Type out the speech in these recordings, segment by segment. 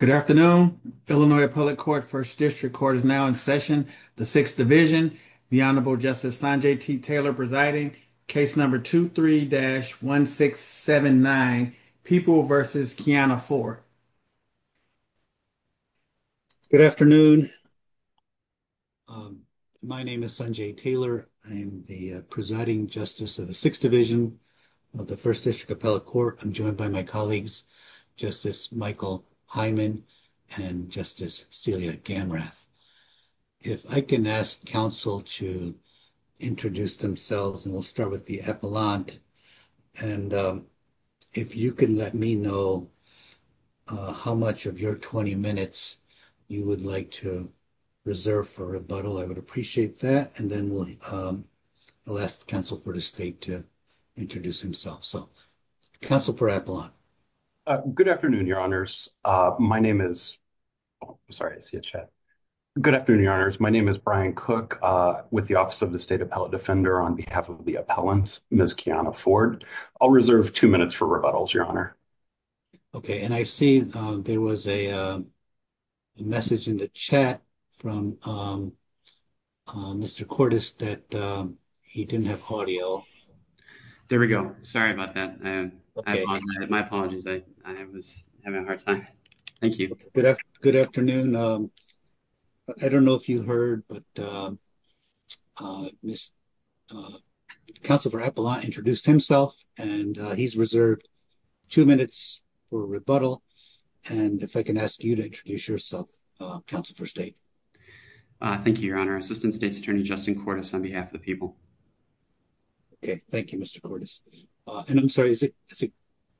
Good afternoon. Illinois Appellate Court, First District Court is now in session. The Sixth Division, the Honorable Justice Sanjay T. Taylor presiding, case number 23-1679, People v. Kiana Ford. Good afternoon. My name is Sanjay Taylor. I'm the presiding justice of the Sixth Division of the First District Appellate Court. I'm joined by my colleagues, Justice Michael Hyman and Justice Celia Gamrath. If I can ask counsel to introduce themselves, and we'll start with the epilogue. And if you can let me know how much of your 20 minutes you would like to reserve for rebuttal, I would appreciate that. And then we'll ask the counsel for the state to introduce himself. So, counsel for epilogue. Justice Michael Hyman Good afternoon, Your Honors. My name is, sorry, I see a chat. Good afternoon, Your Honors. My name is Brian Cook with the Office of the State Appellate Defender on behalf of the appellant, Ms. Kiana Ford. I'll reserve two minutes for rebuttals, Your Honor. Okay. And I see there was a message in the chat from Mr. Cordes that he didn't have audio. Justice Michael Hyman There we go. Sorry about that. My apologies. I was having a hard time. Thank you. Good afternoon. I don't know if you heard, but Ms. counsel for epilogue introduced himself, and he's reserved two minutes for rebuttal. And if I can ask you to introduce yourself, counsel for state. Thank you, Your Honor. Assistant State's Attorney, Justin Cordes on behalf of the people. Okay. Thank you, Mr. Cordes. And I'm sorry, is it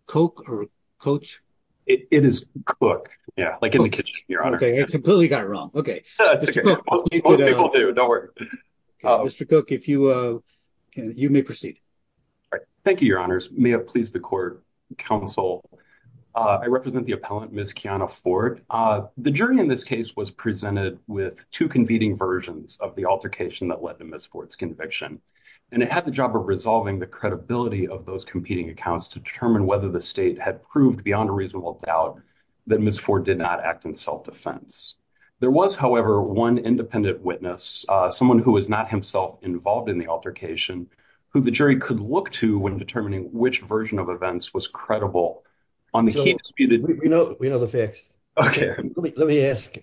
Coke or Coach? It is Cook. Yeah, like in the kitchen, Your Honor. Okay. I completely got it wrong. Okay. It's okay. Don't worry. Mr. Cook, if you can, you may proceed. All right. Thank you, Your Honors. May it please the court, counsel. I represent the appellant, Ms. Kiana Ford. The jury in this case was presented with two competing versions of the altercation that led to Ms. Ford's conviction. And it had the job of resolving the credibility of those competing accounts to determine whether the state had proved beyond a reasonable doubt that Ms. Ford did not act in self-defense. There was, however, one independent witness, someone who was not himself involved in the altercation, who the jury could look to when determining which version of events was credible on the case. We know the facts. Okay. Let me ask,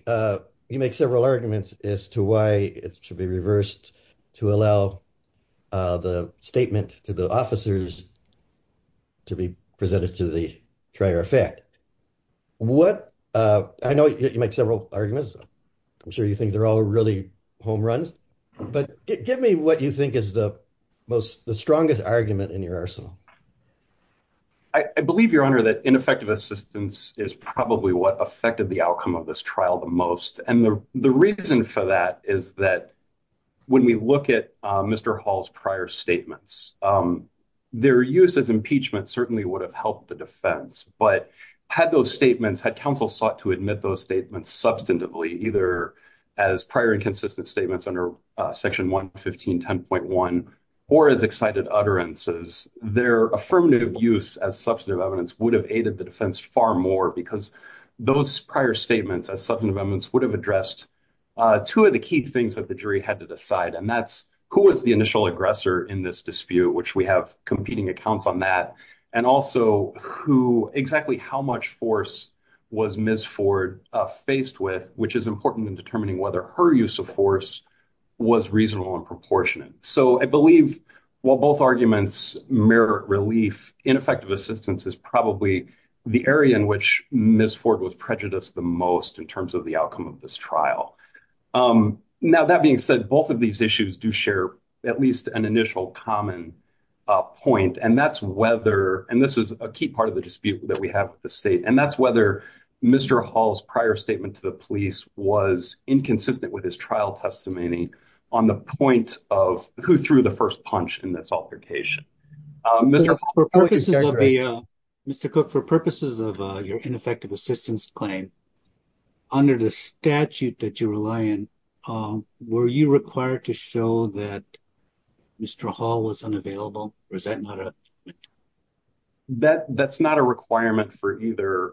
you make several arguments as to why it should be reversed to allow the statement to the officers to be presented to the trial of fact. I know you make several arguments. I'm sure you think they're all really home runs, but give me what you think is the strongest argument in your arsenal. I believe, Your Honor, that ineffective assistance is probably what affected the outcome of this trial the most. And the reason for that is that when we look at Mr. Hall's prior statements, their use as impeachment certainly would have helped the defense. But had those statements, had counsel sought to admit those statements substantively, either as prior inconsistent statements under Section 115, 10.1, or as excited utterances, their affirmative use as substantive evidence would have aided the defense far more because those prior statements as substantive evidence would have addressed two of the key things that jury had to decide, and that's who was the initial aggressor in this dispute, which we have competing accounts on that, and also who, exactly how much force was Ms. Ford faced with, which is important in determining whether her use of force was reasonable and proportionate. So I believe while both arguments merit relief, ineffective assistance is probably the area in which Ms. Ford was prejudiced the most in terms of the outcome of this trial. Now, that being said, both of these issues do share at least an initial common point, and that's whether, and this is a key part of the dispute that we have with the state, and that's whether Mr. Hall's prior statement to the police was inconsistent with his trial testimony on the point of who threw the first punch in this altercation. Mr. Cook, for purposes of your ineffective assistance claim, under the statute that you rely on, were you required to show that Mr. Hall was unavailable? That's not a requirement for either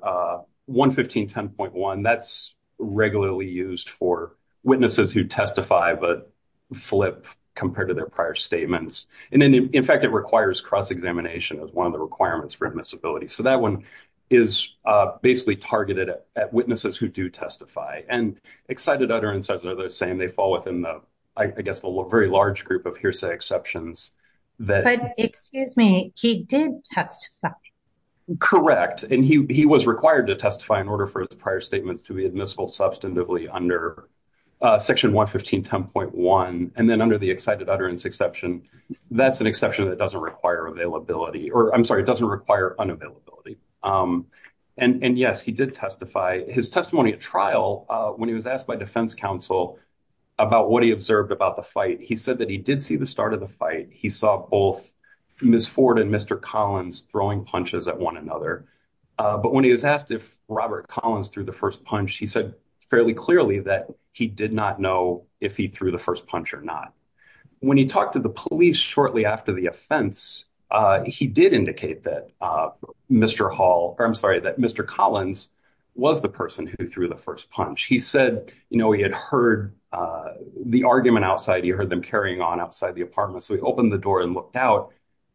11510.1. That's regularly used for witnesses who testify, but flip compared to their prior statements. In fact, it requires cross-examination as one of the requirements for admissibility. So that one is basically targeted at witnesses who do testify, and excited utterances are the same. They fall within, I guess, a very large group of hearsay exceptions. But excuse me, he did testify. Correct, and he was required to testify in order for his prior statements to be admissible substantively under section 11510.1, and then under the excited utterance exception, that's an exception that doesn't require availability, or I'm sorry, it doesn't require unavailability. And yes, he did testify. His testimony at trial, when he was asked by defense counsel about what he observed about the fight, he said that he did see the start of the fight. He saw both Ms. Ford and Mr. Collins throwing punches at one another. But when he was asked if Robert Collins threw the first punch, he said fairly clearly that he did not know if he threw the first punch or not. When he talked to the police shortly after the offense, he did indicate that Mr. Collins was the person who threw the first punch. He said he had heard the argument outside, he heard them carrying on outside the apartment. So he opened the door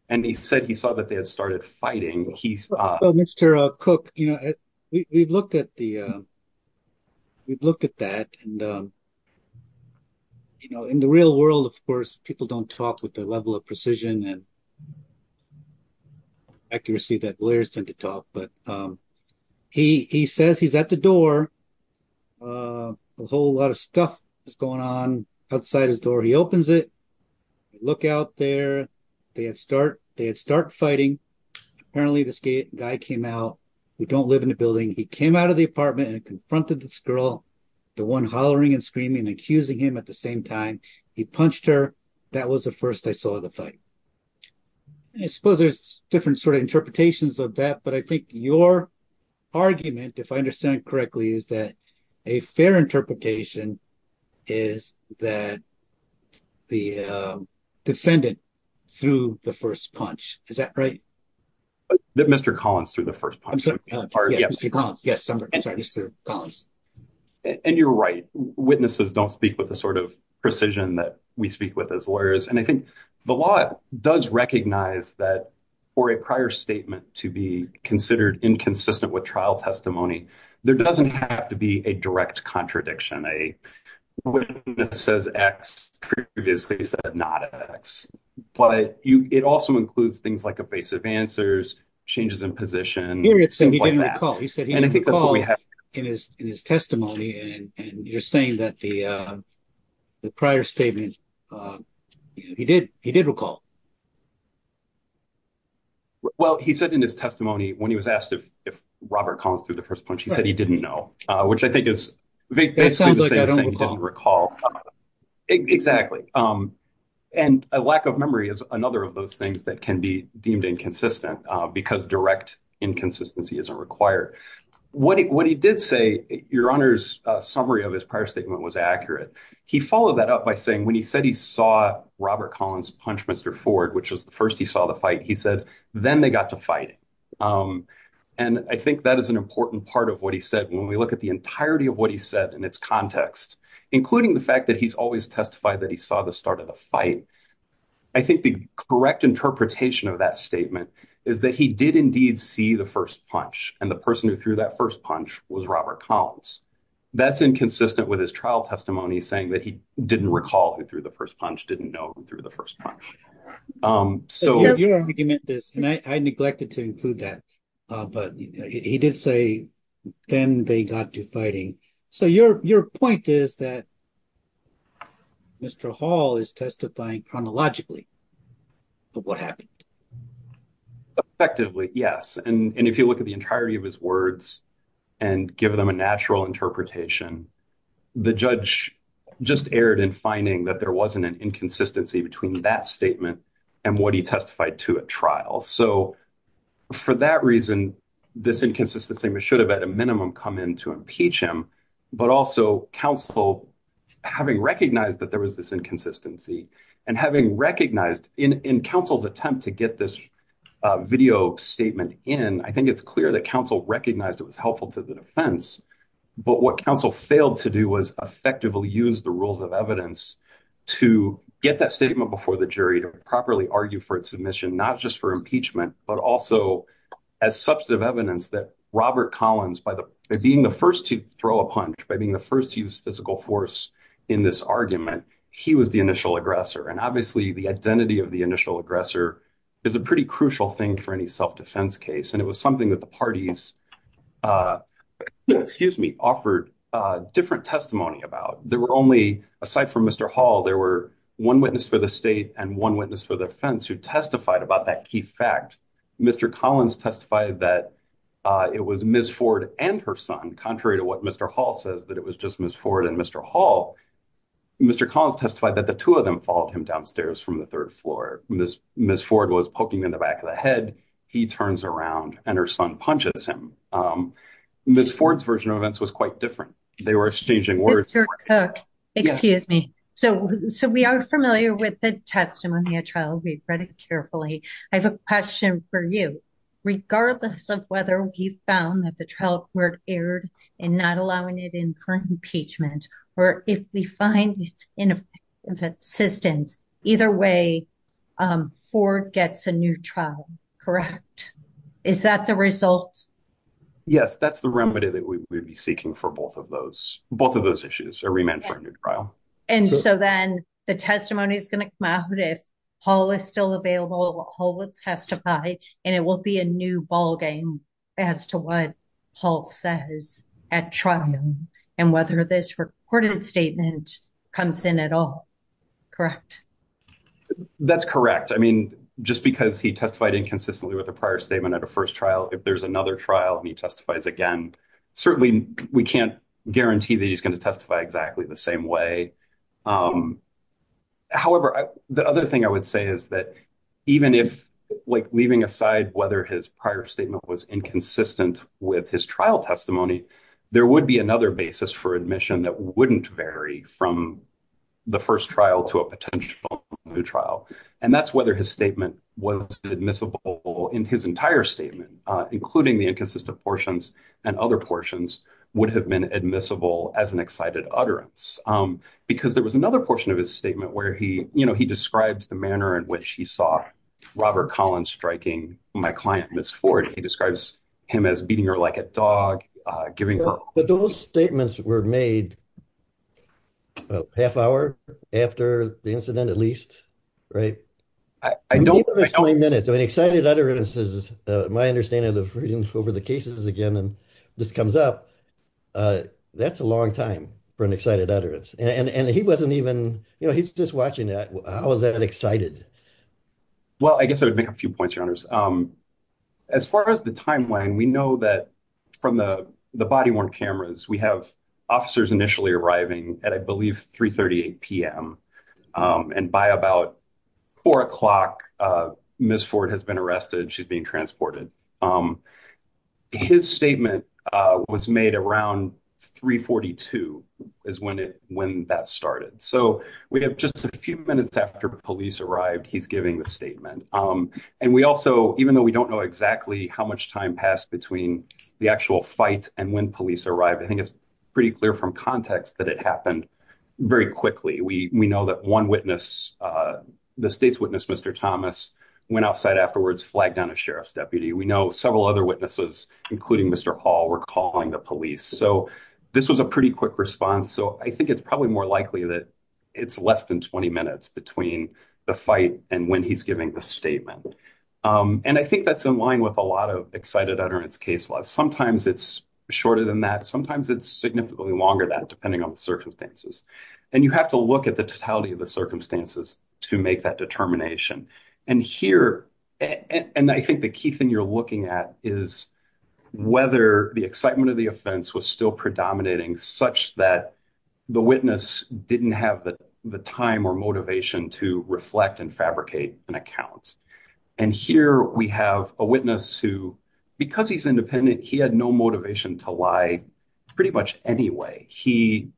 and he said he saw that they had started fighting. Mr. Cook, we've looked at that. In the real world, of course, people don't talk with the level of precision and accuracy that lawyers tend to talk, but he says he's at the door. A whole lot of stuff is going on outside his door. He opens it, look out there. They had started fighting. Apparently, this guy came out. We don't live in the building. He came out of the apartment and confronted this girl, the one hollering and screaming and accusing him at the same time. He punched her. That was the first I saw the fight. I suppose there's different sort of interpretations of that, but I think your argument, if I understand correctly, is that a fair interpretation is that the defendant threw the first punch. Is that right? That Mr. Collins threw the first punch. And you're right. Witnesses don't speak with the sort of precision that we speak with as lawyers. And I think the law does recognize that for a prior statement to be considered inconsistent with trial testimony, there doesn't have to be a direct contradiction. A witness says X, previously said not X. But it also includes things like evasive answers, changes in position. He didn't recall. He said he didn't recall in his testimony. And you're saying that the prior statement, he did recall. Well, he said in his testimony when he was asked if Robert Collins threw the first punch, he said he didn't know, which I think is basically the same thing. He didn't recall. Exactly. And a lack of memory is another of those things that can be deemed inconsistent because direct inconsistency isn't required. What he did say, your Honor's summary of his prior statement was accurate. He followed that up by saying when he said he saw Robert Collins punch Mr. Ford, which was the first he saw the fight, he said, then they got to fighting. And I think that is an important part of what he said. When we look at the entirety of what he said in its context, including the fact that he's always testified that he saw the start of the fight, I think the correct interpretation of that statement is that he did indeed see the first punch. And the person who threw that first punch was Robert Collins. That's inconsistent with his trial testimony saying that he didn't recall who threw the first punch, didn't know who threw the first punch. So your argument is, and I neglected to include that, but he did say, then they got to fighting. So your point is that Mr. Hall is testifying chronologically of what happened. Effectively, yes. And if you look at the entirety of his words and give them a natural interpretation, the judge just erred in finding that there wasn't an inconsistency between that statement and what he testified to at trial. So for that reason, this inconsistency should have at a minimum come in to impeach him, but also counsel having recognized that there was this inconsistency and having recognized in counsel's attempt to get this video statement in, I think it's clear that counsel recognized it was helpful to the defense, but what counsel failed to do was effectively use the rules of evidence to get that statement before the jury to properly argue for its submission, not just for impeachment, but also as substantive evidence that Robert Collins, by being the first to throw a punch, by being the first to use physical force in this argument, he was the initial aggressor. And obviously, the identity of the initial aggressor is a pretty crucial thing for any self-defense case. It was something that the parties offered different testimony about. Aside from Mr. Hall, there were one witness for the state and one witness for the defense who testified about that key fact. Mr. Collins testified that it was Ms. Ford and her son, contrary to what Mr. Hall says, that it was just Ms. Ford and Mr. Hall. Mr. Collins testified that the two of them followed him downstairs from the third floor. Ms. Ford was poking him in the back of the head. He turns around and her son punches him. Ms. Ford's version of events was quite different. They were exchanging words. Mr. Cook, excuse me. So, we are familiar with the testimony of trial. We've read it carefully. I have a question for you. Regardless of whether we found that the trial court erred in not allowing it in for impeachment, or if we find it's in existence, either way, Ford gets a new trial, correct? Is that the result? Yes, that's the remedy that we would be seeking for both of those issues, a remand for a new trial. And so then the testimony is going to come out if Hall is still available, Hall would testify, and it will be a new ballgame as to what Hall says at trial and whether this recorded statement comes in at all, correct? That's correct. I mean, just because he testified inconsistently with a prior statement at a first trial, if there's another trial, and he testifies again, certainly we can't guarantee that he's going to testify exactly the same way. However, the other thing I would say is that even if like leaving aside whether his prior statement was inconsistent with his trial testimony, there would be another basis for admission that wouldn't vary from the first trial to a potential new trial. And that's whether his statement was admissible in his entire statement, including the inconsistent portions, and other portions would have been admissible as an excited utterance. Because there was another portion of his statement where he describes the manner in which he saw Robert Collins striking my client, Ms. Ford. He describes him as beating her like a dog, giving her- But those statements were made a half hour after the incident, at least, right? I don't- Even if it's 20 minutes, an excited utterance is, my understanding of reading over the cases again, and this comes up, that's a long time for an excited utterance. And he wasn't even, you know, he's just watching that. How is that excited? Well, I guess I would make a few points, Your Honors. As far as the timeline, we know that from the body-worn cameras, we have officers initially arriving at, I believe, 3.38 p.m. And by about four o'clock, Ms. Ford has been arrested, she's being transported. His statement was made around 3.42 is when that started. So we have just a few minutes after police arrived, he's giving the statement. And we also, even though we don't know exactly how much time passed between the actual fight and when police arrived, I think it's pretty clear from context that it happened very quickly. We know that one witness, the state's witness, Mr. Thomas, went outside afterwards, flagged down a sheriff's deputy. We know several other witnesses, including Mr. Hall, were calling the police. So this was a pretty quick response. So I think it's probably more likely that it's less than 20 minutes between the fight and when he's giving the statement. And I think that's in line with a lot of excited utterance case laws. Sometimes it's shorter than that. Sometimes it's significantly longer than that, depending on the circumstances. And you have to look at the totality of the circumstances to make that determination. And here, and I think the key thing you're looking at is whether the excitement of the was still predominating such that the witness didn't have the time or motivation to reflect and fabricate an account. And here we have a witness who, because he's independent, he had no motivation to lie pretty much anyway. His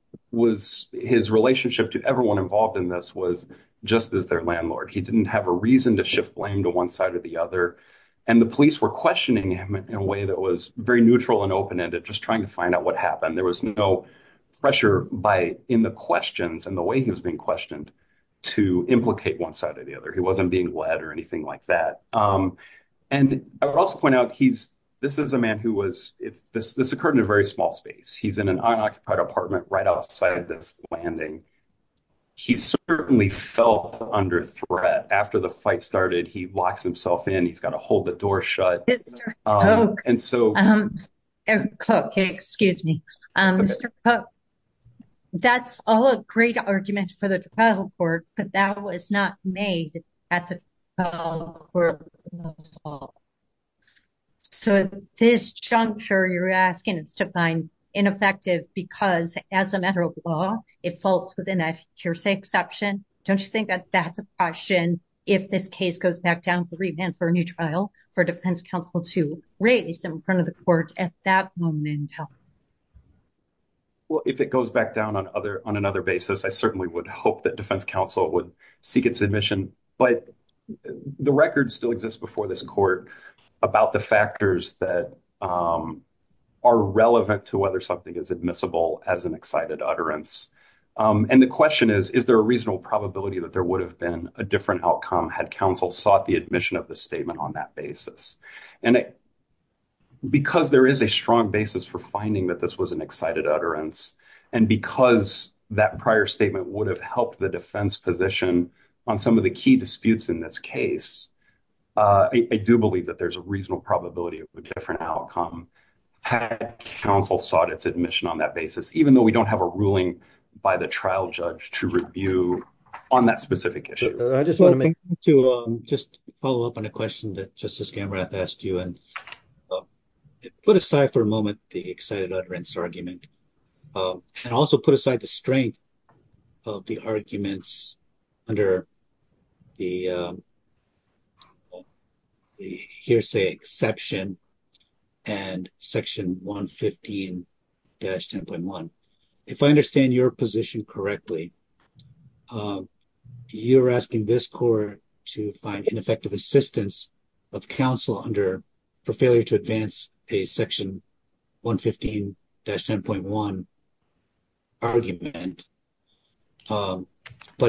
relationship to everyone involved in this was just as their landlord. He didn't have a reason to shift blame to one side or the other. And the police were questioning him in a way that was very neutral and open-ended, just trying to find out what happened. There was no pressure in the questions and the way he was being questioned to implicate one side or the other. He wasn't being led or anything like that. And I would also point out, this is a man who was, this occurred in a very small space. He's in an unoccupied apartment right outside this landing. He certainly felt under threat. After the fight started, he locks himself in. He's got to hold the door shut. Mr. Cook, excuse me. Mr. Cook, that's all a great argument for the trial court, but that was not made at the trial court at all. So this juncture you're asking is to find ineffective because as a matter of law, it falls within that hearsay exception. Don't you think that that's a caution if this case goes back down for revamp for a new trial for defense counsel to raise in front of the court at that moment? Well, if it goes back down on other, on another basis, I certainly would hope that defense counsel would seek its admission, but the record still exists before this court about the factors that are relevant to whether something is admissible as an excited utterance. And the question is, is there a reasonable probability that there would have been a different outcome had counsel sought the admission of the statement on that basis? And because there is a strong basis for finding that this was an excited utterance and because that prior statement would have helped the defense position on some of the key disputes in this case, I do believe that there's a reasonable probability of a different outcome had counsel sought its admission on that basis, even though we don't have a ruling by the trial judge to review on that specific issue. I just want to just follow up on a question that just as camera asked you and put aside for a moment, the excited utterance argument and also put aside the strength of the arguments under the hearsay exception and section 115-10.1. If I understand your position correctly, you're asking this court to find ineffective assistance of counsel under, for failure to advance a section 115-10.1 argument, but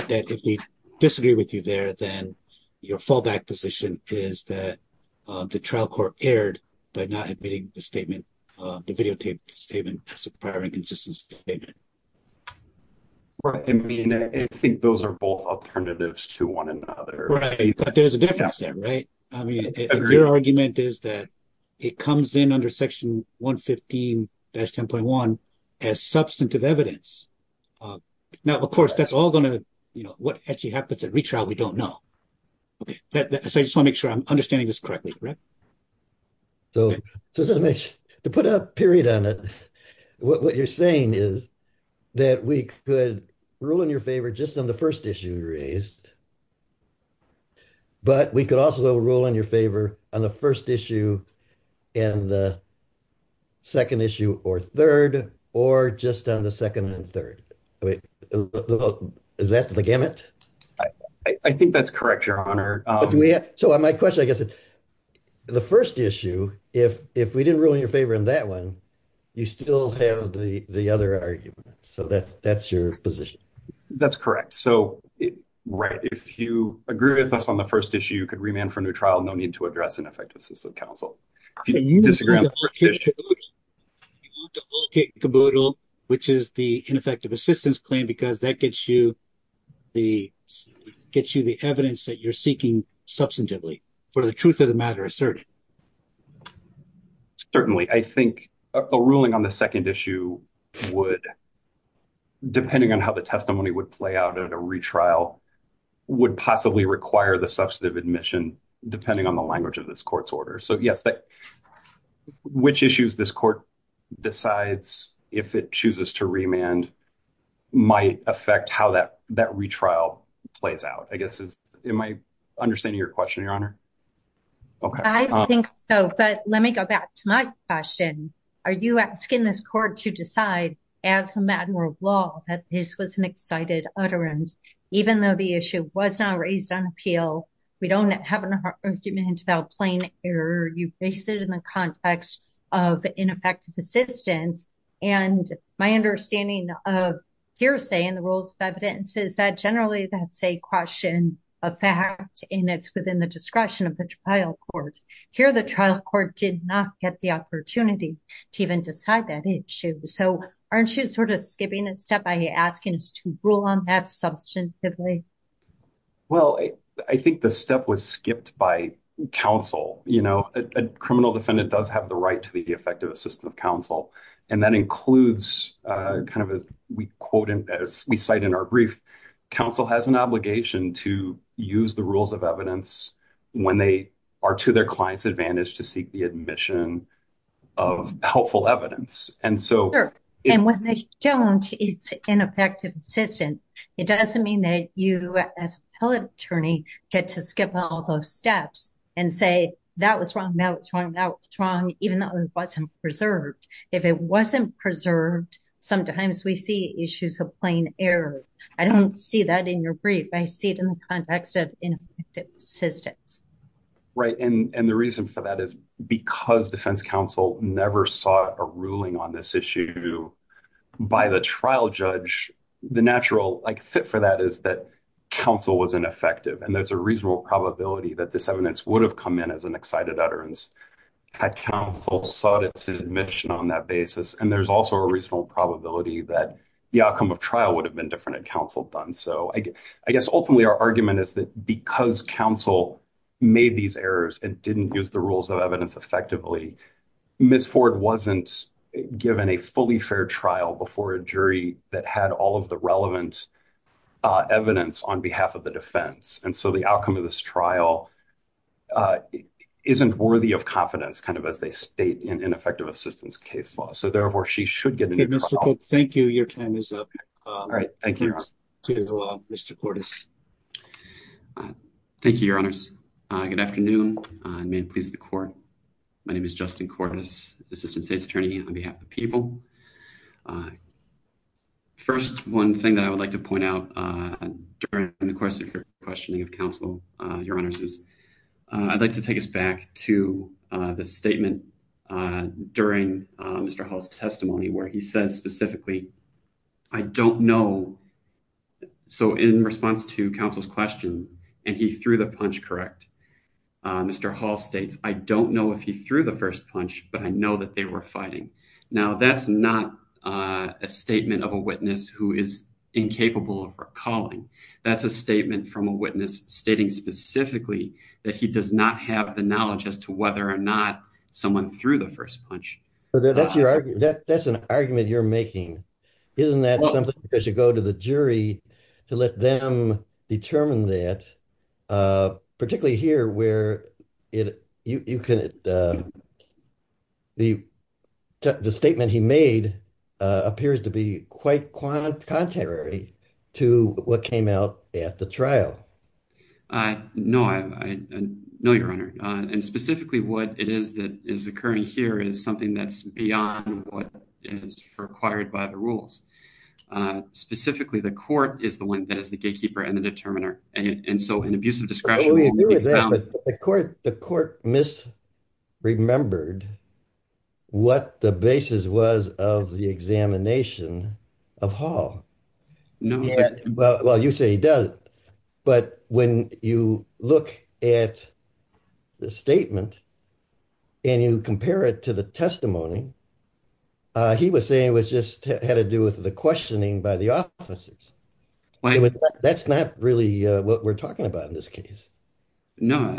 that if we disagree with you there, then your fallback position is that the trial court erred by not admitting the statement, the videotaped statement as a prior and consistent statement. Right, I mean, I think those are both alternatives to one another. Right, but there's a difference there, right? I mean, your argument is that it comes in under section 115-10.1 as substantive evidence. Now, of course, that's all going to, you know, actually happens at retrial, we don't know. Okay, so I just want to make sure I'm understanding this correctly, correct? So, to put a period on it, what you're saying is that we could rule in your favor just on the first issue you raised, but we could also rule in your favor on the first issue and the second issue or third, or just on the second and third. Is that the gamut? I think that's correct, your honor. So, my question, I guess, the first issue, if we didn't rule in your favor on that one, you still have the other argument. So, that's your position. That's correct. So, right, if you agree with us on the first issue, you could remand for new trial, no need to address ineffective system counsel. If you disagree on the first issue. You will duplicate caboodle, which is the ineffective assistance claim, because that gets you the evidence that you're seeking substantively for the truth of the matter asserted. Certainly. I think a ruling on the second issue would, depending on how the testimony would play out at a retrial, would possibly require the substantive admission, depending on the language of this court's order. So, yes, which issues this court decides, if it chooses to remand, might affect how that retrial plays out. I guess, am I understanding your question, your honor? I think so, but let me go back to my question. Are you asking this court to decide as a matter of law that this was an excited utterance, even though the issue was not raised on appeal? We don't have an argument about plain error. You base it in the context of ineffective assistance. And my understanding of hearsay and the rules of evidence is that generally that's a question of fact, and it's within the discretion of the trial court. Here, the trial court did not get the opportunity to even decide that issue. So, aren't you sort of skipping a step by asking us to rule on that substantively? Well, I think the step was skipped by counsel. A criminal defendant does have the right to the effective assistance of counsel, and that includes kind of as we cite in our brief, counsel has an obligation to use the rules of evidence when they are to their client's advantage to seek the admission of helpful evidence. And when they don't, it's ineffective assistance. It doesn't mean that you as an appellate attorney get to skip all those steps and say that was wrong, that was wrong, that was wrong, even though it wasn't preserved. If it wasn't preserved, sometimes we see issues of plain error. I don't see that in your brief. I see it in the context of ineffective assistance. Right. And the reason for that is because defense counsel never sought a ruling on this issue by the trial judge, the natural fit for that is that counsel was ineffective. And there's a reasonable probability that this evidence would have come in as an excited utterance had counsel sought its admission on that basis. And there's also a reasonable probability that the outcome of trial would have been different if counsel had done so. I guess ultimately our argument is that because counsel made these errors and didn't use the rules of evidence effectively, Ms. Ford wasn't given a fully fair trial before a jury that had all of the relevant evidence on behalf of the defense. And so the outcome of this trial isn't worthy of confidence kind of as they state in ineffective assistance case law. So therefore she should get Thank you. Your time is up. All right. Thank you. Mr. Cordis. Thank you, your honors. Good afternoon. May it please the court. My name is Justin Cordis, assistant state's attorney on behalf of people. First, one thing that I would like to point out during the question for questioning of counsel, your honors, is I'd like to take us back to the statement during Mr. Hall's testimony, where he says specifically, I don't know. So in response to counsel's question, and he threw the punch, correct? Mr. Hall states, I don't know if he threw the first punch, but I know that they were fighting. Now that's not a statement of a witness who is incapable of recalling. That's a statement from a witness stating specifically that he does not have the whether or not someone threw the first punch. That's an argument you're making. Isn't that something that should go to the jury to let them determine that particularly here where the statement he made appears to be quite contrary to what came out at the trial. I know. I know, your honor. And specifically what it is that is occurring here is something that's beyond what is required by the rules. Specifically, the court is the one that is the gatekeeper and the determiner. And so in abuse of discretion, the court misremembered what the basis was of the examination of Hall. Well, you say he does. But when you look at the statement and you compare it to the testimony, he was saying it was just had to do with the questioning by the officers. That's not really what we're talking about in this case. No,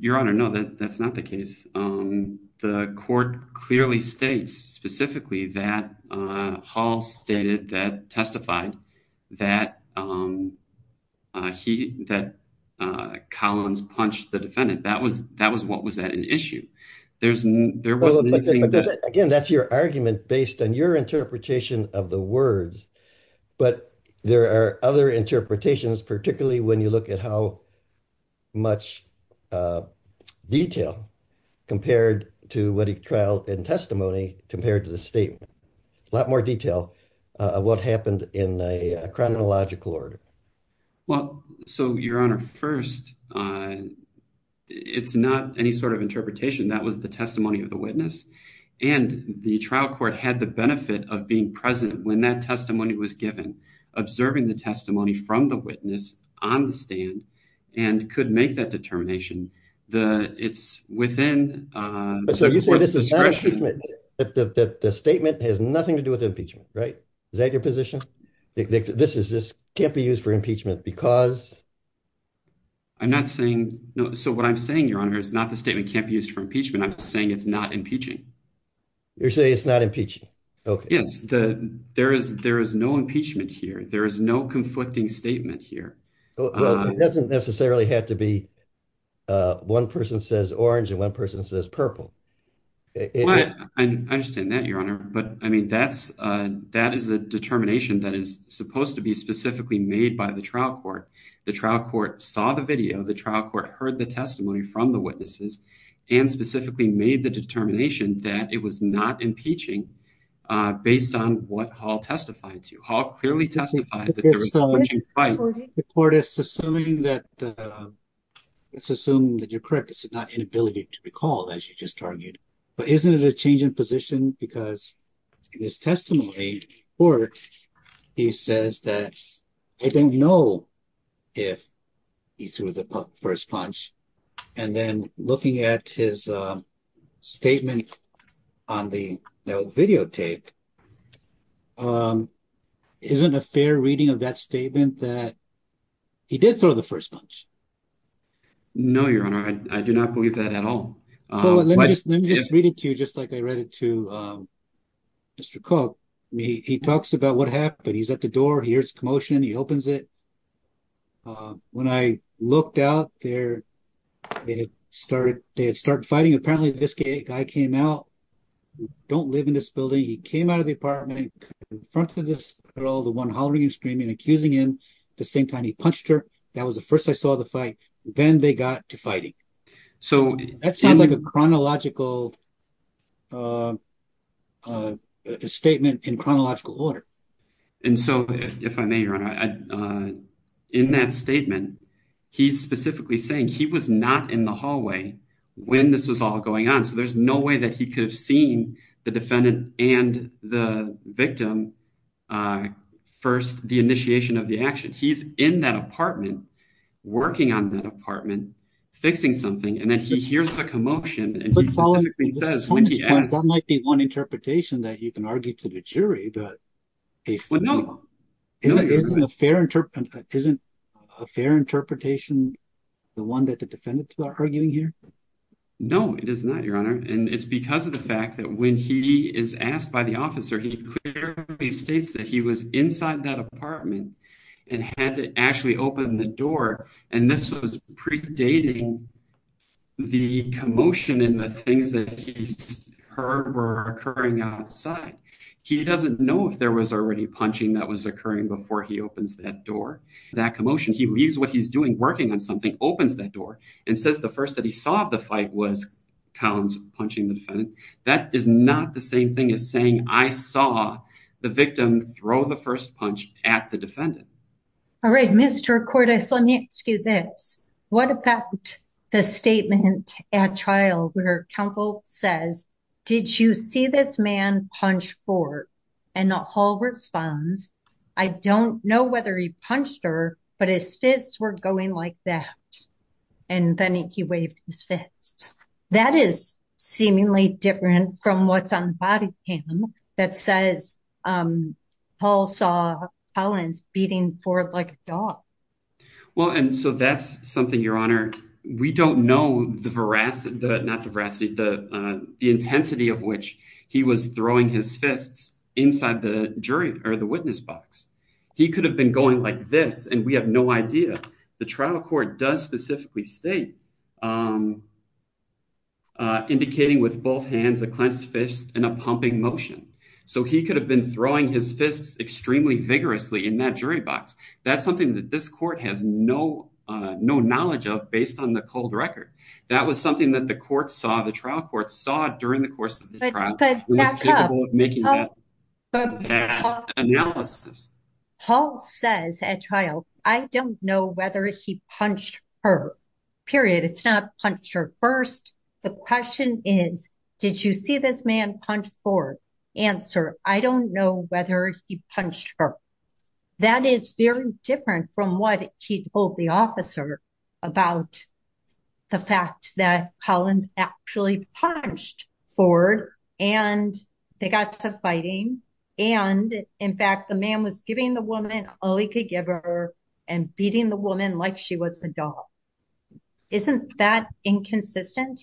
your honor. No, that's not the case. The court clearly states specifically that Hall stated that testified that he that Collins punched the defendant. That was that was what was at an issue. There's there was again, that's your argument based on your interpretation of the But there are other interpretations, particularly when you look at how much detail compared to what he trial and testimony compared to the statement. A lot more detail what happened in a chronological order. Well, so your honor, first, it's not any sort of interpretation. That was the testimony of the witness. And the trial court had the benefit of being present when that testimony was given, observing the testimony from the witness on the stand and could make that determination. The it's within. So you say this is that the statement has nothing to do with impeachment, right? Is that your position? This is this can't be used for impeachment because. I'm not saying no. So what I'm saying, your honor, is not the statement can't be used for impeachment. I'm saying it's not impeaching. You're saying it's not impeaching. Yes, the there is. There is no impeachment here. There is no conflicting statement here. Doesn't necessarily have to be. One person says orange and one person says purple. I understand that your honor, but I mean, that's that is a determination that is supposed to be specifically made by the trial court. The trial court saw the video. The trial court heard the testimony from the witnesses and specifically made the determination that it was not impeaching based on what Hall testified to. Hall clearly testified that there was. The court is assuming that it's assumed that you're correct. It's not inability to be called as you just targeted. But isn't it a change in position because this testimony or he says that I don't know if he threw the first punch and then looking at his statement on the video tape. Isn't a fair reading of that statement that he did throw the first punch? No, your honor, I do not believe that at all. Let me just read it to you just like I read it to Mr. Cook. He talks about what happened. He's at the door. Here's commotion. He opens it. When I looked out there, they had started. They had started fighting. Apparently, this guy came out. Don't live in this building. He came out of the apartment in front of this girl, the one hollering and screaming, accusing him the same time he punched her. That was the first I saw the fight. Then they got to fighting. So that sounds like a chronological statement in chronological order. And so if I may, your honor, in that statement, he's specifically saying he was not in the hallway when this was all going on. So there's no way that he could have seen the defendant and the victim first, the initiation of the action. He's in that apartment, working on that apartment, fixing something. And then he hears the commotion. That might be one interpretation that you can argue to the jury. But isn't a fair interpretation the one that the defendants are arguing here? No, it is not, your honor. And it's because of the fact that when he is asked by the officer, he clearly states that he was inside that apartment and had to actually open the door. And this was predating the commotion and the things that he heard were occurring outside. He doesn't know if there was already punching that was occurring before he opens that door. That commotion, he leaves what he's doing, working on something, opens that door, and says the first that he saw the fight was Collins punching the defendant. That is not the same thing as saying I saw the victim throw the first punch at the defendant. All right, Mr. Cordes, let me ask you this. What about the statement at trial where counsel says, did you see this man punch Ford? And Hall responds, I don't know whether he punched her, but his fists were going like that. And then he waved his fists. That is seemingly different from what's on the body cam that says Hall saw Collins beating Ford like a dog. Well, and so that's something, your honor. We don't know the veracity, not the veracity, the intensity of which he was throwing his fists inside the jury or the witness box. He could have been going like this, and we have no idea. The trial court does specifically state, um, indicating with both hands a clenched fist and a pumping motion. So he could have been throwing his fists extremely vigorously in that jury box. That's something that this court has no, no knowledge of based on the cold record. That was something that the court saw, the trial court saw during the course of the trial. He was capable of making that analysis. Hall says at trial, I don't know whether he punched her, period. It's not punched her first. The question is, did you see this man punch Ford? Answer, I don't know whether he punched her. That is very different from what he told the officer about the fact that Collins actually punched Ford and they got to fighting. And in fact, the man was giving the woman all he could give her and beating the woman like she was a dog. Isn't that inconsistent?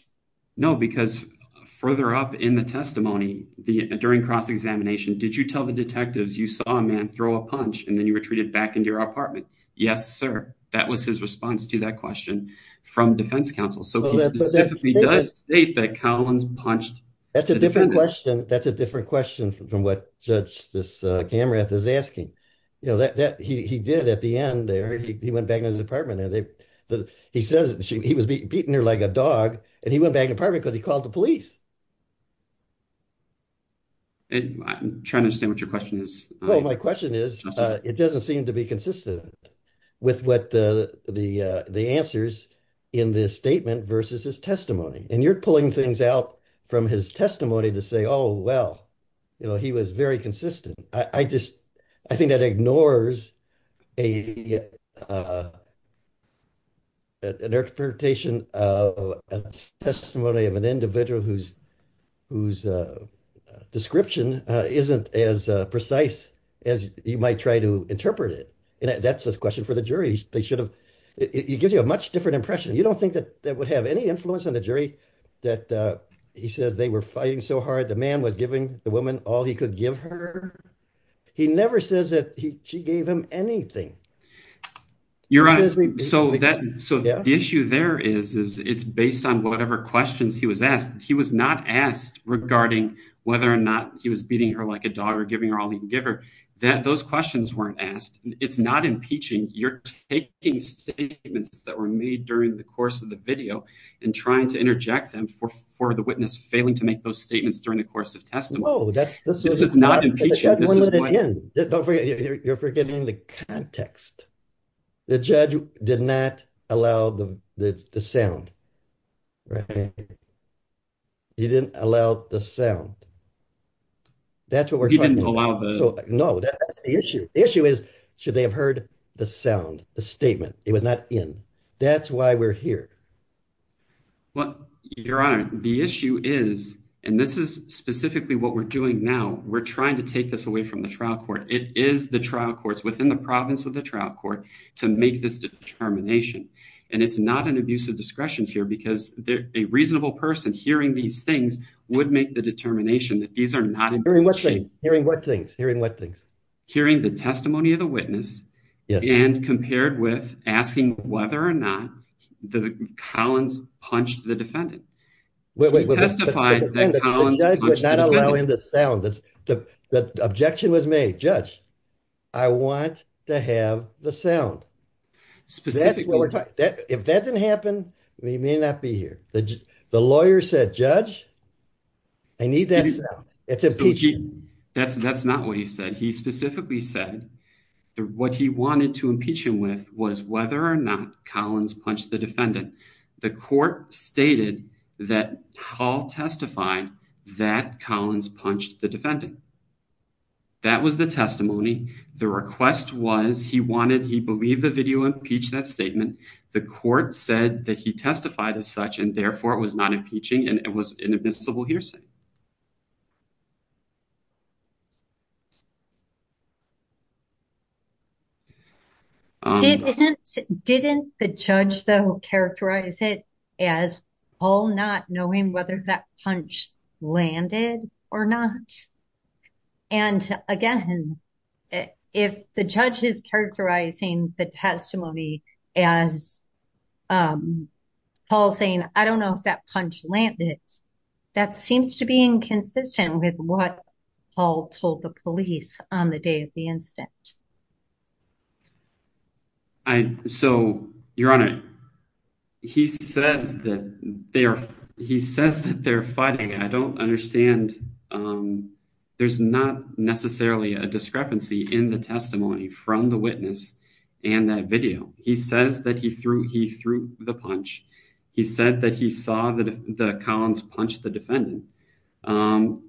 No, because further up in the testimony, the, during cross-examination, did you tell the detectives you saw a man throw a punch and then you retreated back into your apartment? Yes, sir. That was his response to that question from defense counsel. So he specifically does state that Collins punched. That's a different question. That's a different question from what judge this, uh, camera is asking, you know, that, that he, he did at the end there, he went back into his apartment and they, he says he was beating her like a dog and he went back in apartment cause he called the police. And I'm trying to say what your question is. Well, my question is, uh, it doesn't seem to be consistent with what the, the, uh, the answers in this statement versus his testimony. And you're pulling things out from his testimony to say, oh, well, you know, he was very consistent. I, I just, I think that ignores a, uh, an interpretation of a testimony of an individual who's, who's, uh, uh, description, uh, isn't as, uh, precise as you might try to interpret it. And that's a question for the jury. They should have, it gives you a much different impression. You don't think that that would have any influence on the jury that, uh, he says they were fighting so hard. The man was giving the woman all he could give her. He never says that he, she gave him anything. You're right. So that, so the issue there is, is it's based on whatever questions he was asked. He was not asked regarding whether or not he was beating her like a dog or giving her all he can that those questions weren't asked. It's not impeaching. You're taking statements that were made during the course of the video and trying to interject them for, for the witness failing to make those statements during the course of testimony. This is not impeaching. You're forgetting the context. The judge did not allow the sound. Right. He didn't allow the sound. That's what we're trying to allow. No, that's the issue. Issue is, should they have heard the sound, the statement? It was not in. That's why we're here. Well, your honor, the issue is, and this is specifically what we're doing now. We're trying to take this away from the trial court. It is the trial courts within the province of the trial court to make this determination. And it's not an abuse of discretion here because a reasonable person hearing these things would make the determination that these are not. Hearing what things, hearing what things? Hearing the testimony of the witness and compared with asking whether or not the Collins punched the defendant. The judge would not allow in the sound. The objection was made, I want to have the sound. If that didn't happen, we may not be here. The lawyer said, judge, I need that sound. That's not what he said. He specifically said that what he wanted to impeach him with was whether or not Collins punched the defendant. The court stated that Paul testified that Collins punched the defendant. That was the testimony. The request was he wanted, he believed the video impeached that statement. The court said that he testified as such and therefore it was not impeaching and it was an admissible hearsay. Didn't the judge though characterize it as all not knowing whether that punch landed or not? And again, if the judge is characterizing the testimony as Paul saying I don't know if that landed, that seems to be inconsistent with what Paul told the police on the day of the incident. I, so your honor, he says that they are, he says that they're fighting. I don't understand, there's not necessarily a discrepancy in the testimony from the witness and that video. He says that he threw, he threw the punch. He said that he saw that the Collins punched the defendant and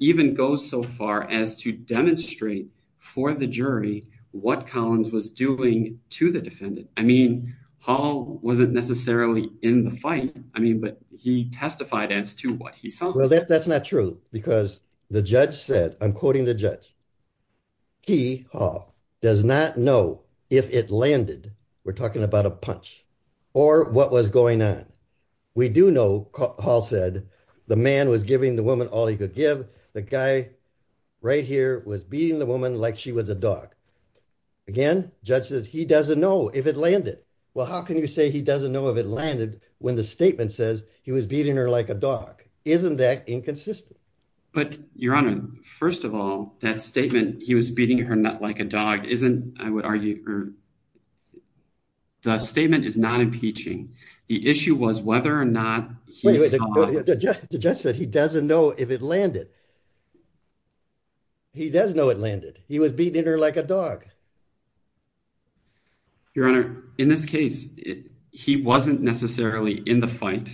even goes so far as to demonstrate for the jury what Collins was doing to the defendant. I mean, Paul wasn't necessarily in the fight. I mean, but he testified as to what he saw. Well, that's not true because the judge said, I'm quoting the judge, he does not know if it landed, we're talking about a punch or what was going on. We do know Paul said the man was giving the woman all he could give. The guy right here was beating the woman like she was a dog. Again, judge says he doesn't know if it landed. Well, how can you say he doesn't know if it landed when the statement says he was beating her like a dog? Isn't that inconsistent? But your honor, first of all, that statement, he was beating her like a dog, isn't, I would argue, the statement is not impeaching. The issue was whether or not the judge said he doesn't know if it landed. He does know it landed. He was beating her like a dog. Your honor, in this case, he wasn't necessarily in the fight.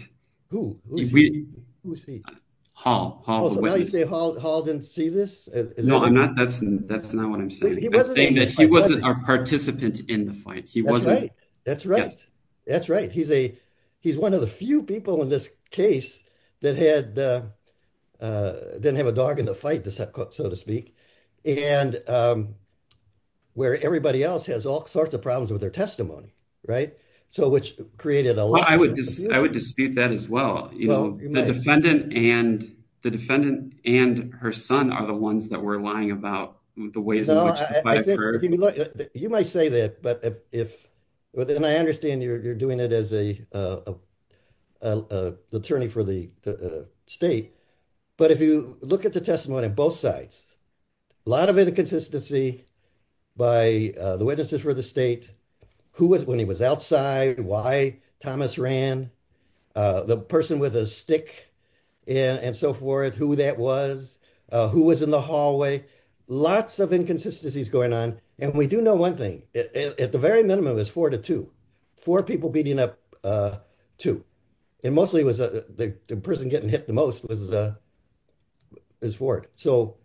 Who? Hall. Hall didn't see this? No, I'm not. That's not what I'm saying. He wasn't our participant in the fight. He wasn't. That's right. That's right. He's a, he's one of the few people in this case that had didn't have a dog in the fight, so to speak, and where everybody else has all sorts of problems with their testimony. Right. So which created a lot. I would just, I would dispute that as well. You know, the defendant and the defendant and her son are the ones that were lying about the ways in which you might say that. But if I understand you're doing it as a attorney for the state, but if you look at the testimony on both sides, a lot of inconsistency by the witnesses for the state, who was, when he was outside, why Thomas ran, the person with a stick and so forth, who that was, who was in the hallway, lots of inconsistencies going on. And we do know one thing at the very minimum is four to two, four people beating up two. And mostly it was the person getting hit the most was, is Ford. So.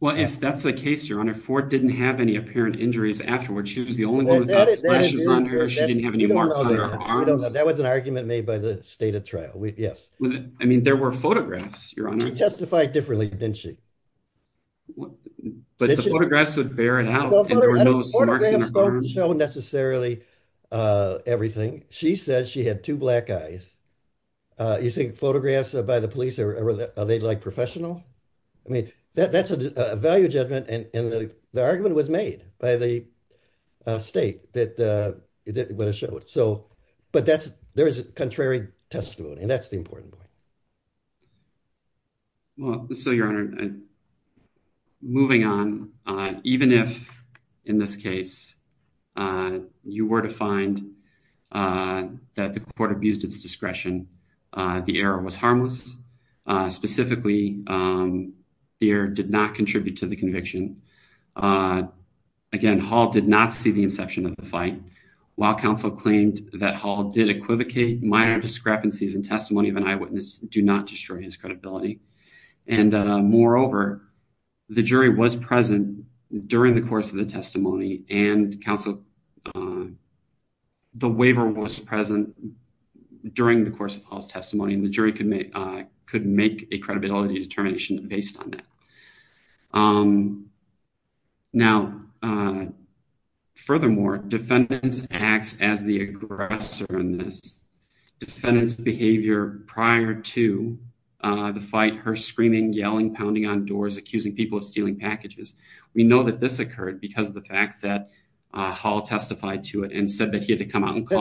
Well, if that's the case, your honor, Ford didn't have any apparent injuries afterwards. She was the only one that had splashes on her. She didn't have any marks on her arms. That was an argument made by the state of trial. Yes. I mean, there were photographs, your honor. She testified differently, didn't she? But the photographs would bear it out. Photographs don't show necessarily everything. She said she had two black eyes. You think photographs by the police are, are they like professional? I mean, that's a value judgment. And the argument was made by the state that, that would have showed. So, but that's, there is a contrary testimony and that's the important point. Well, so your honor, moving on, even if in this case you were to find that the court abused its discretion, the error was harmless. Specifically, the error did not contribute to the conviction. Again, Hall did not see the inception of the fight. While counsel claimed that Hall did minor discrepancies in testimony of an eyewitness do not destroy his credibility. And moreover, the jury was present during the course of the testimony and counsel, the waiver was present during the course of Hall's testimony and the jury could make, could make a credibility determination based on that. Now, furthermore, defendants acts as aggressor in this. Defendant's behavior prior to the fight, her screaming, yelling, pounding on doors, accusing people of stealing packages. We know that this occurred because of the fact that Hall testified to it and said that he had to come out and calm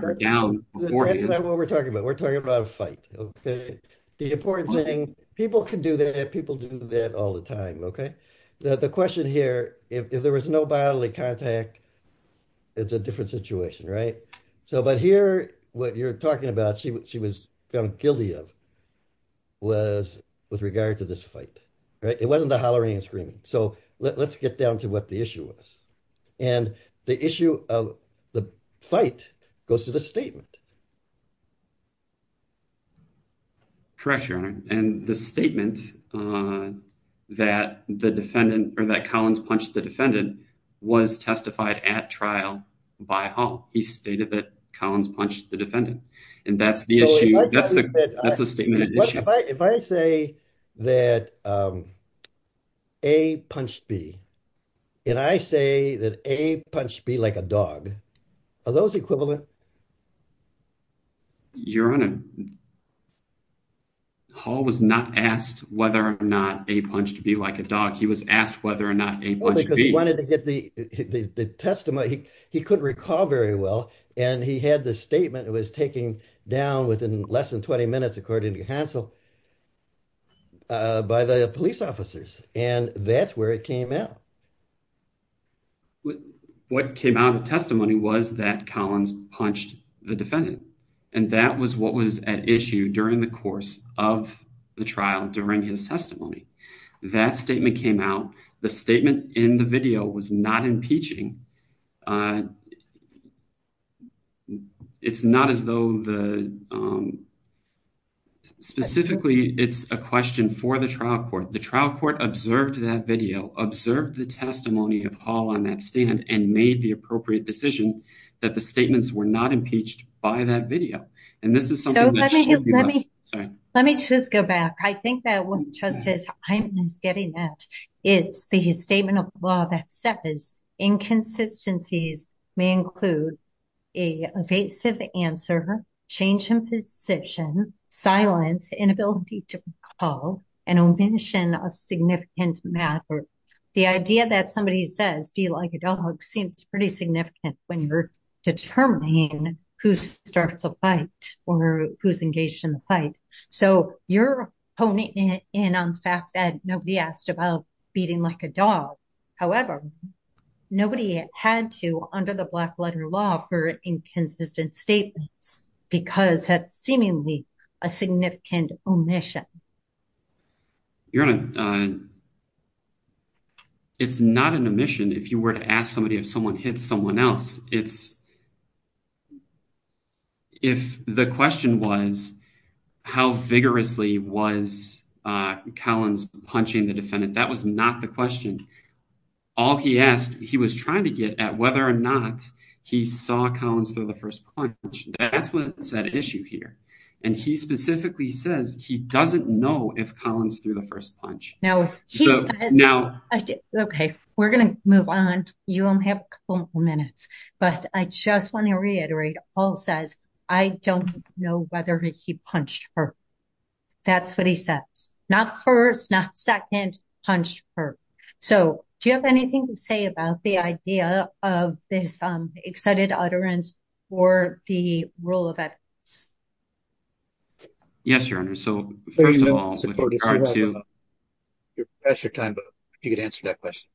her down. That's not what we're talking about. We're talking about a fight. Okay. The important thing, people can do that. People do that all the time. Okay. The question here, if there was no bodily contact, it's a different situation, right? So, but here what you're talking about, she was found guilty of was with regard to this fight, right? It wasn't the hollering and screaming. So let's get down to what the issue was. And the issue of the fight goes to the statement. Correct your honor. And the statement that the defendant or that Collins punched the defendant was testified at trial by hall. He stated that Collins punched the defendant and that's the issue. If I say that, um, a punched B and I say that a punched B like a dog, are those equivalent? Your honor hall was not asked whether or not a punched B like a dog. He was asked whether or not he wanted to get the testimony. He couldn't recall very well. And he had this statement. It was taken down within less than 20 minutes, according to Hansel, uh, by the police officers. And that's where it came out. What came out of testimony was that Collins punched the defendant. And that was what was at issue during the course of the trial. During his testimony, that statement came out. The statement in the video was not impeaching. It's not as though the, um, specifically it's a question for the trial court. The trial court observed that video, observed the testimony of hall on that stand and made the appropriate decision that the statements were not impeached by that video. And this is something that should be. Let me just go back. I think that what Justice Hyman is getting at is the statement of law that says inconsistencies may include a evasive answer, change in position, silence, inability to recall, an omission of significant matter. The idea that somebody says B like a dog seems pretty significant when you're determining who starts a fight or who's engaged in the fight. So you're honing in on the fact that nobody asked about beating like a dog. However, nobody had to under the black letter law for inconsistent statements because that's seemingly a significant omission. You're on a, uh, it's not an omission. If you were to ask somebody, if someone hits someone else, it's if the question was how vigorously was, uh, Collins punching the defendant, that was not the question. All he asked, he was trying to get at whether or not he saw Collins through the first punch. That's what's at issue here. And he specifically says he doesn't know if Collins through the first punch. Now. Okay. We're going to move on. You only have a couple more minutes, but I just want to reiterate, Paul says, I don't know whether he punched her. That's what he says. Not first, not second, punched her. So do you have anything to say about the idea of this, um, excited utterance or the rule of ethics? Yes, your honor. So first of all, that's your time, but you could answer that question.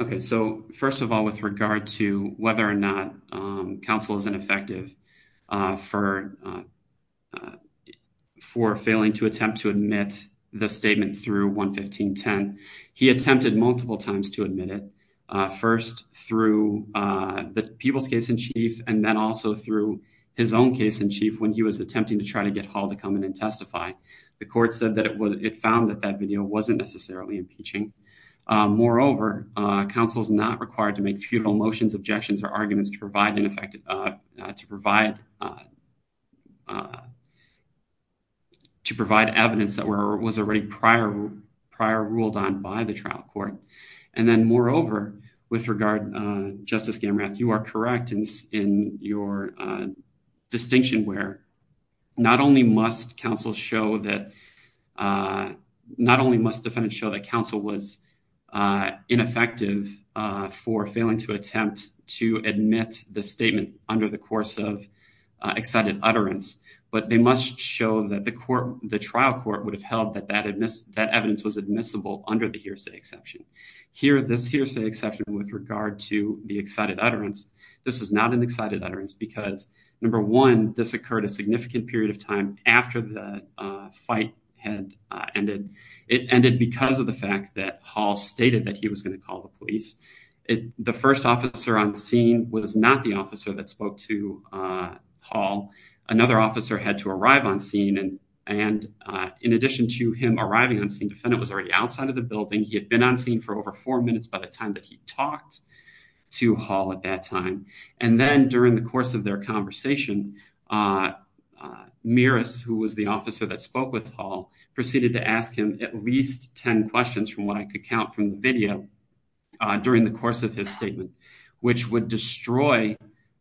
Okay. So first of all, with regard to whether or not, um, counsel is ineffective, uh, for, uh, for failing to attempt to admit the statement through 1 15 10. He attempted multiple times to admit it, uh, first through, uh, the people's case in chief, and then also through his own case in chief. When he was attempting to try to get hall to come in and testify, the court said that it would, it found that that video wasn't necessarily impeaching. Uh, moreover, uh, counsel is not required to make feudal motions, objections, or arguments to provide ineffective, uh, to provide, uh, to provide evidence that were was already prior prior ruled on by the trial court. And then, moreover, with regard, uh, Justice Gamerath, you are correct in your distinction where not only must counsel show that, uh, not only must defendants show that counsel was, uh, ineffective, uh, for failing to attempt to admit the statement under the course of, uh, excited utterance, but they must show that the court, the trial court would have held that that had missed that evidence was admissible under the hearsay exception here. This hearsay exception with regard to the excited utterance. This is not an excited utterance because number one, this occurred a significant period of time after the, uh, fight had ended. It ended because of the fact that hall stated that he was going to call the police. It, the first officer I'm seeing was not the on scene and, uh, in addition to him arriving on scene, defendant was already outside of the building. He had been on scene for over four minutes by the time that he talked to hall at that time. And then during the course of their conversation, uh, uh, Miras, who was the officer that spoke with hall, proceeded to ask him at least 10 questions from what I could count from the video, uh, during the course of his statement, which would destroy,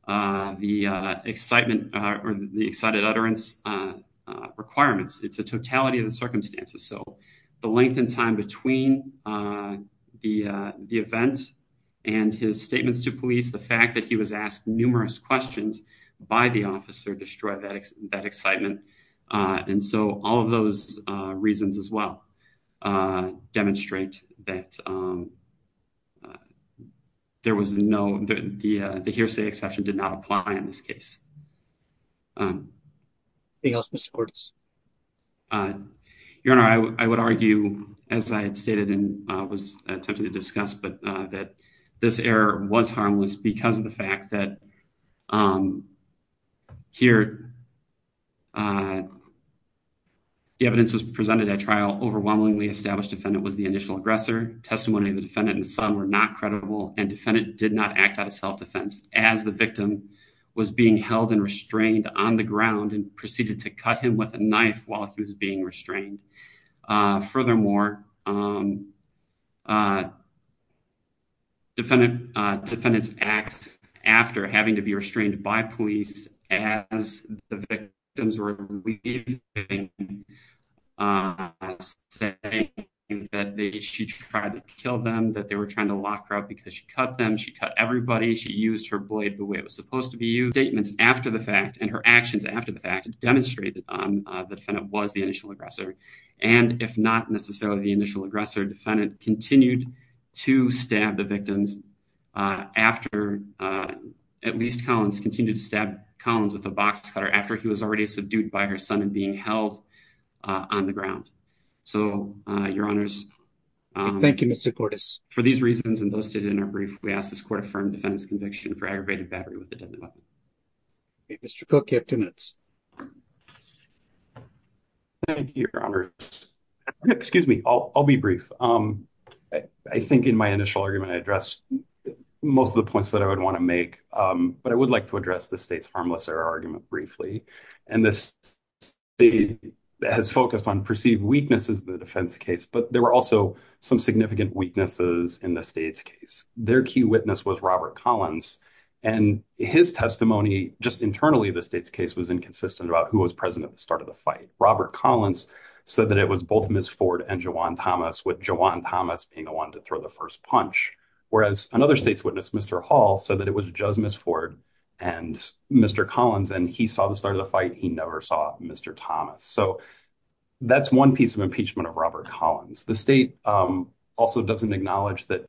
uh, the, uh, excitement or the excited utterance, uh, uh, requirements. It's a totality of the circumstances. So the length and time between, uh, the, uh, the event and his statements to police, the fact that he was asked numerous questions by the officer destroyed that excitement. Uh, and so all of those reasons as well, uh, demonstrate that, um, uh, there was no, the, uh, the hearsay exception did not apply in this case. Um, your honor, I w I would argue as I had stated in, uh, was attempting to discuss, but, uh, that this error was harmless because of the fact that, um, here, uh, the evidence was presented at trial. Overwhelmingly established defendant was the initial aggressor. Testimony of the defendant and son were not credible and defendant did not act out of self-defense as the victim was being held and restrained on the ground and proceeded to cut him with a knife while he was being restrained. Uh, furthermore, um, uh, defendant, uh, defendants after having to be restrained by police as the victims were leaving, uh, that they, she tried to kill them, that they were trying to lock her up because she cut them. She cut everybody. She used her blade the way it was supposed to be used. Statements after the fact and her actions after the fact demonstrated, um, uh, the defendant was the initial aggressor. And if not necessarily the initial aggressor defendant continued to stab the victims, uh, after, uh, at least Collins continued to stab Collins with a box cutter after he was already subdued by her son and being held, uh, on the ground. So, uh, your honors, um, thank you, Mr. Cordis for these reasons. And those students are brief. We asked this court affirmed defense conviction for aggravated battery with the deadly weapon. Mr. Cook, you have two minutes. Thank you, your honor. Excuse me. I'll, I'll be brief. Um, I think in my initial argument, I addressed most of the points that I would want to make. Um, but I would like to address the state's harmless error argument briefly. And this has focused on perceived weaknesses, the defense case, but there were also some significant weaknesses in the state's case. Their key witness was Robert Collins and his testimony just internally. The state's case was inconsistent about who was present at the start of the fight. Robert Collins said that it was both Ford and Jawan Thomas with Jawan Thomas being the one to throw the first punch. Whereas another state's witness, Mr. Hall said that it was just miss Ford and Mr. Collins. And he saw the start of the fight. He never saw Mr. Thomas. So that's one piece of impeachment of Robert Collins. The state, um, also doesn't acknowledge that,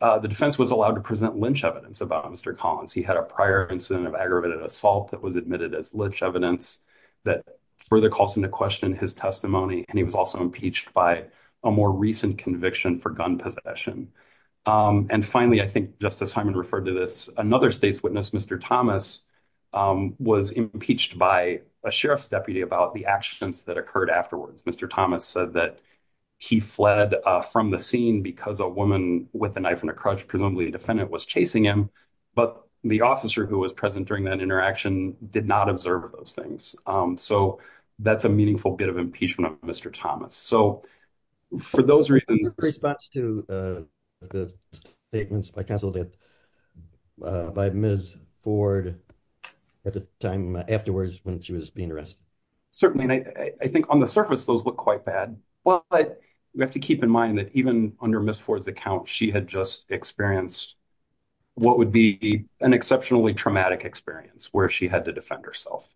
uh, the defense was allowed to present Lynch evidence about Mr. Collins. He had a prior incident of aggravated assault that was admitted as evidence that further calls into question his testimony. And he was also impeached by a more recent conviction for gun possession. Um, and finally, I think just as Simon referred to this, another state's witness, Mr. Thomas, um, was impeached by a sheriff's deputy about the accidents that occurred afterwards. Mr. Thomas said that he fled from the scene because a woman with a knife and a crutch, presumably a defendant was chasing him, but the officer who was present that interaction did not observe those things. Um, so that's a meaningful bit of impeachment of Mr. Thomas. So for those reasons, response to, uh, the statements by counsel that, uh, by Ms. Ford at the time afterwards, when she was being arrested. Certainly. And I think on the surface, those look quite bad, but we have to keep in mind that even under Ms. Ford's account, she had just experienced what would be an exceptionally traumatic experience where she had to defend herself.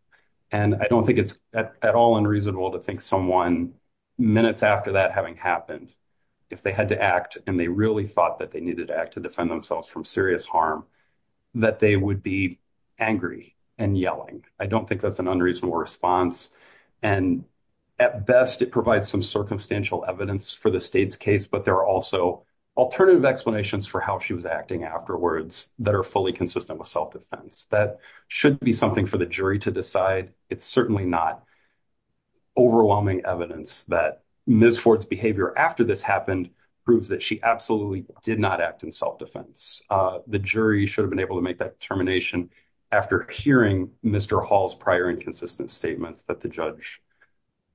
And I don't think it's at all unreasonable to think someone minutes after that having happened, if they had to act and they really thought that they needed to act to defend themselves from serious harm, that they would be angry and yelling. I don't think that's an unreasonable response. And at best, it provides some circumstantial evidence for the state's case, but there are also alternative explanations for how she was acting afterwards that are fully consistent with self defense. That should be something for the jury to decide. It's certainly not overwhelming evidence that Ms. Ford's behavior after this happened proves that she absolutely did not act in self defense. Uh, the jury should have been able to make that determination after hearing Mr. Hall's prior inconsistent statements that the judge,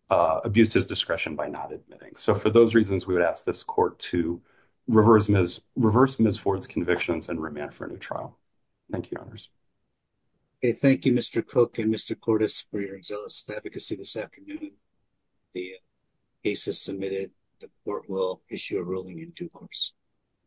uh, abused his discretion by not admitting. So for those we would ask this court to reverse Ms. Ford's convictions and remand for a new trial. Thank you, Your Honors. Okay. Thank you, Mr. Cook and Mr. Cordes for your excellent advocacy this afternoon. The case is submitted. The court will issue a ruling in due course.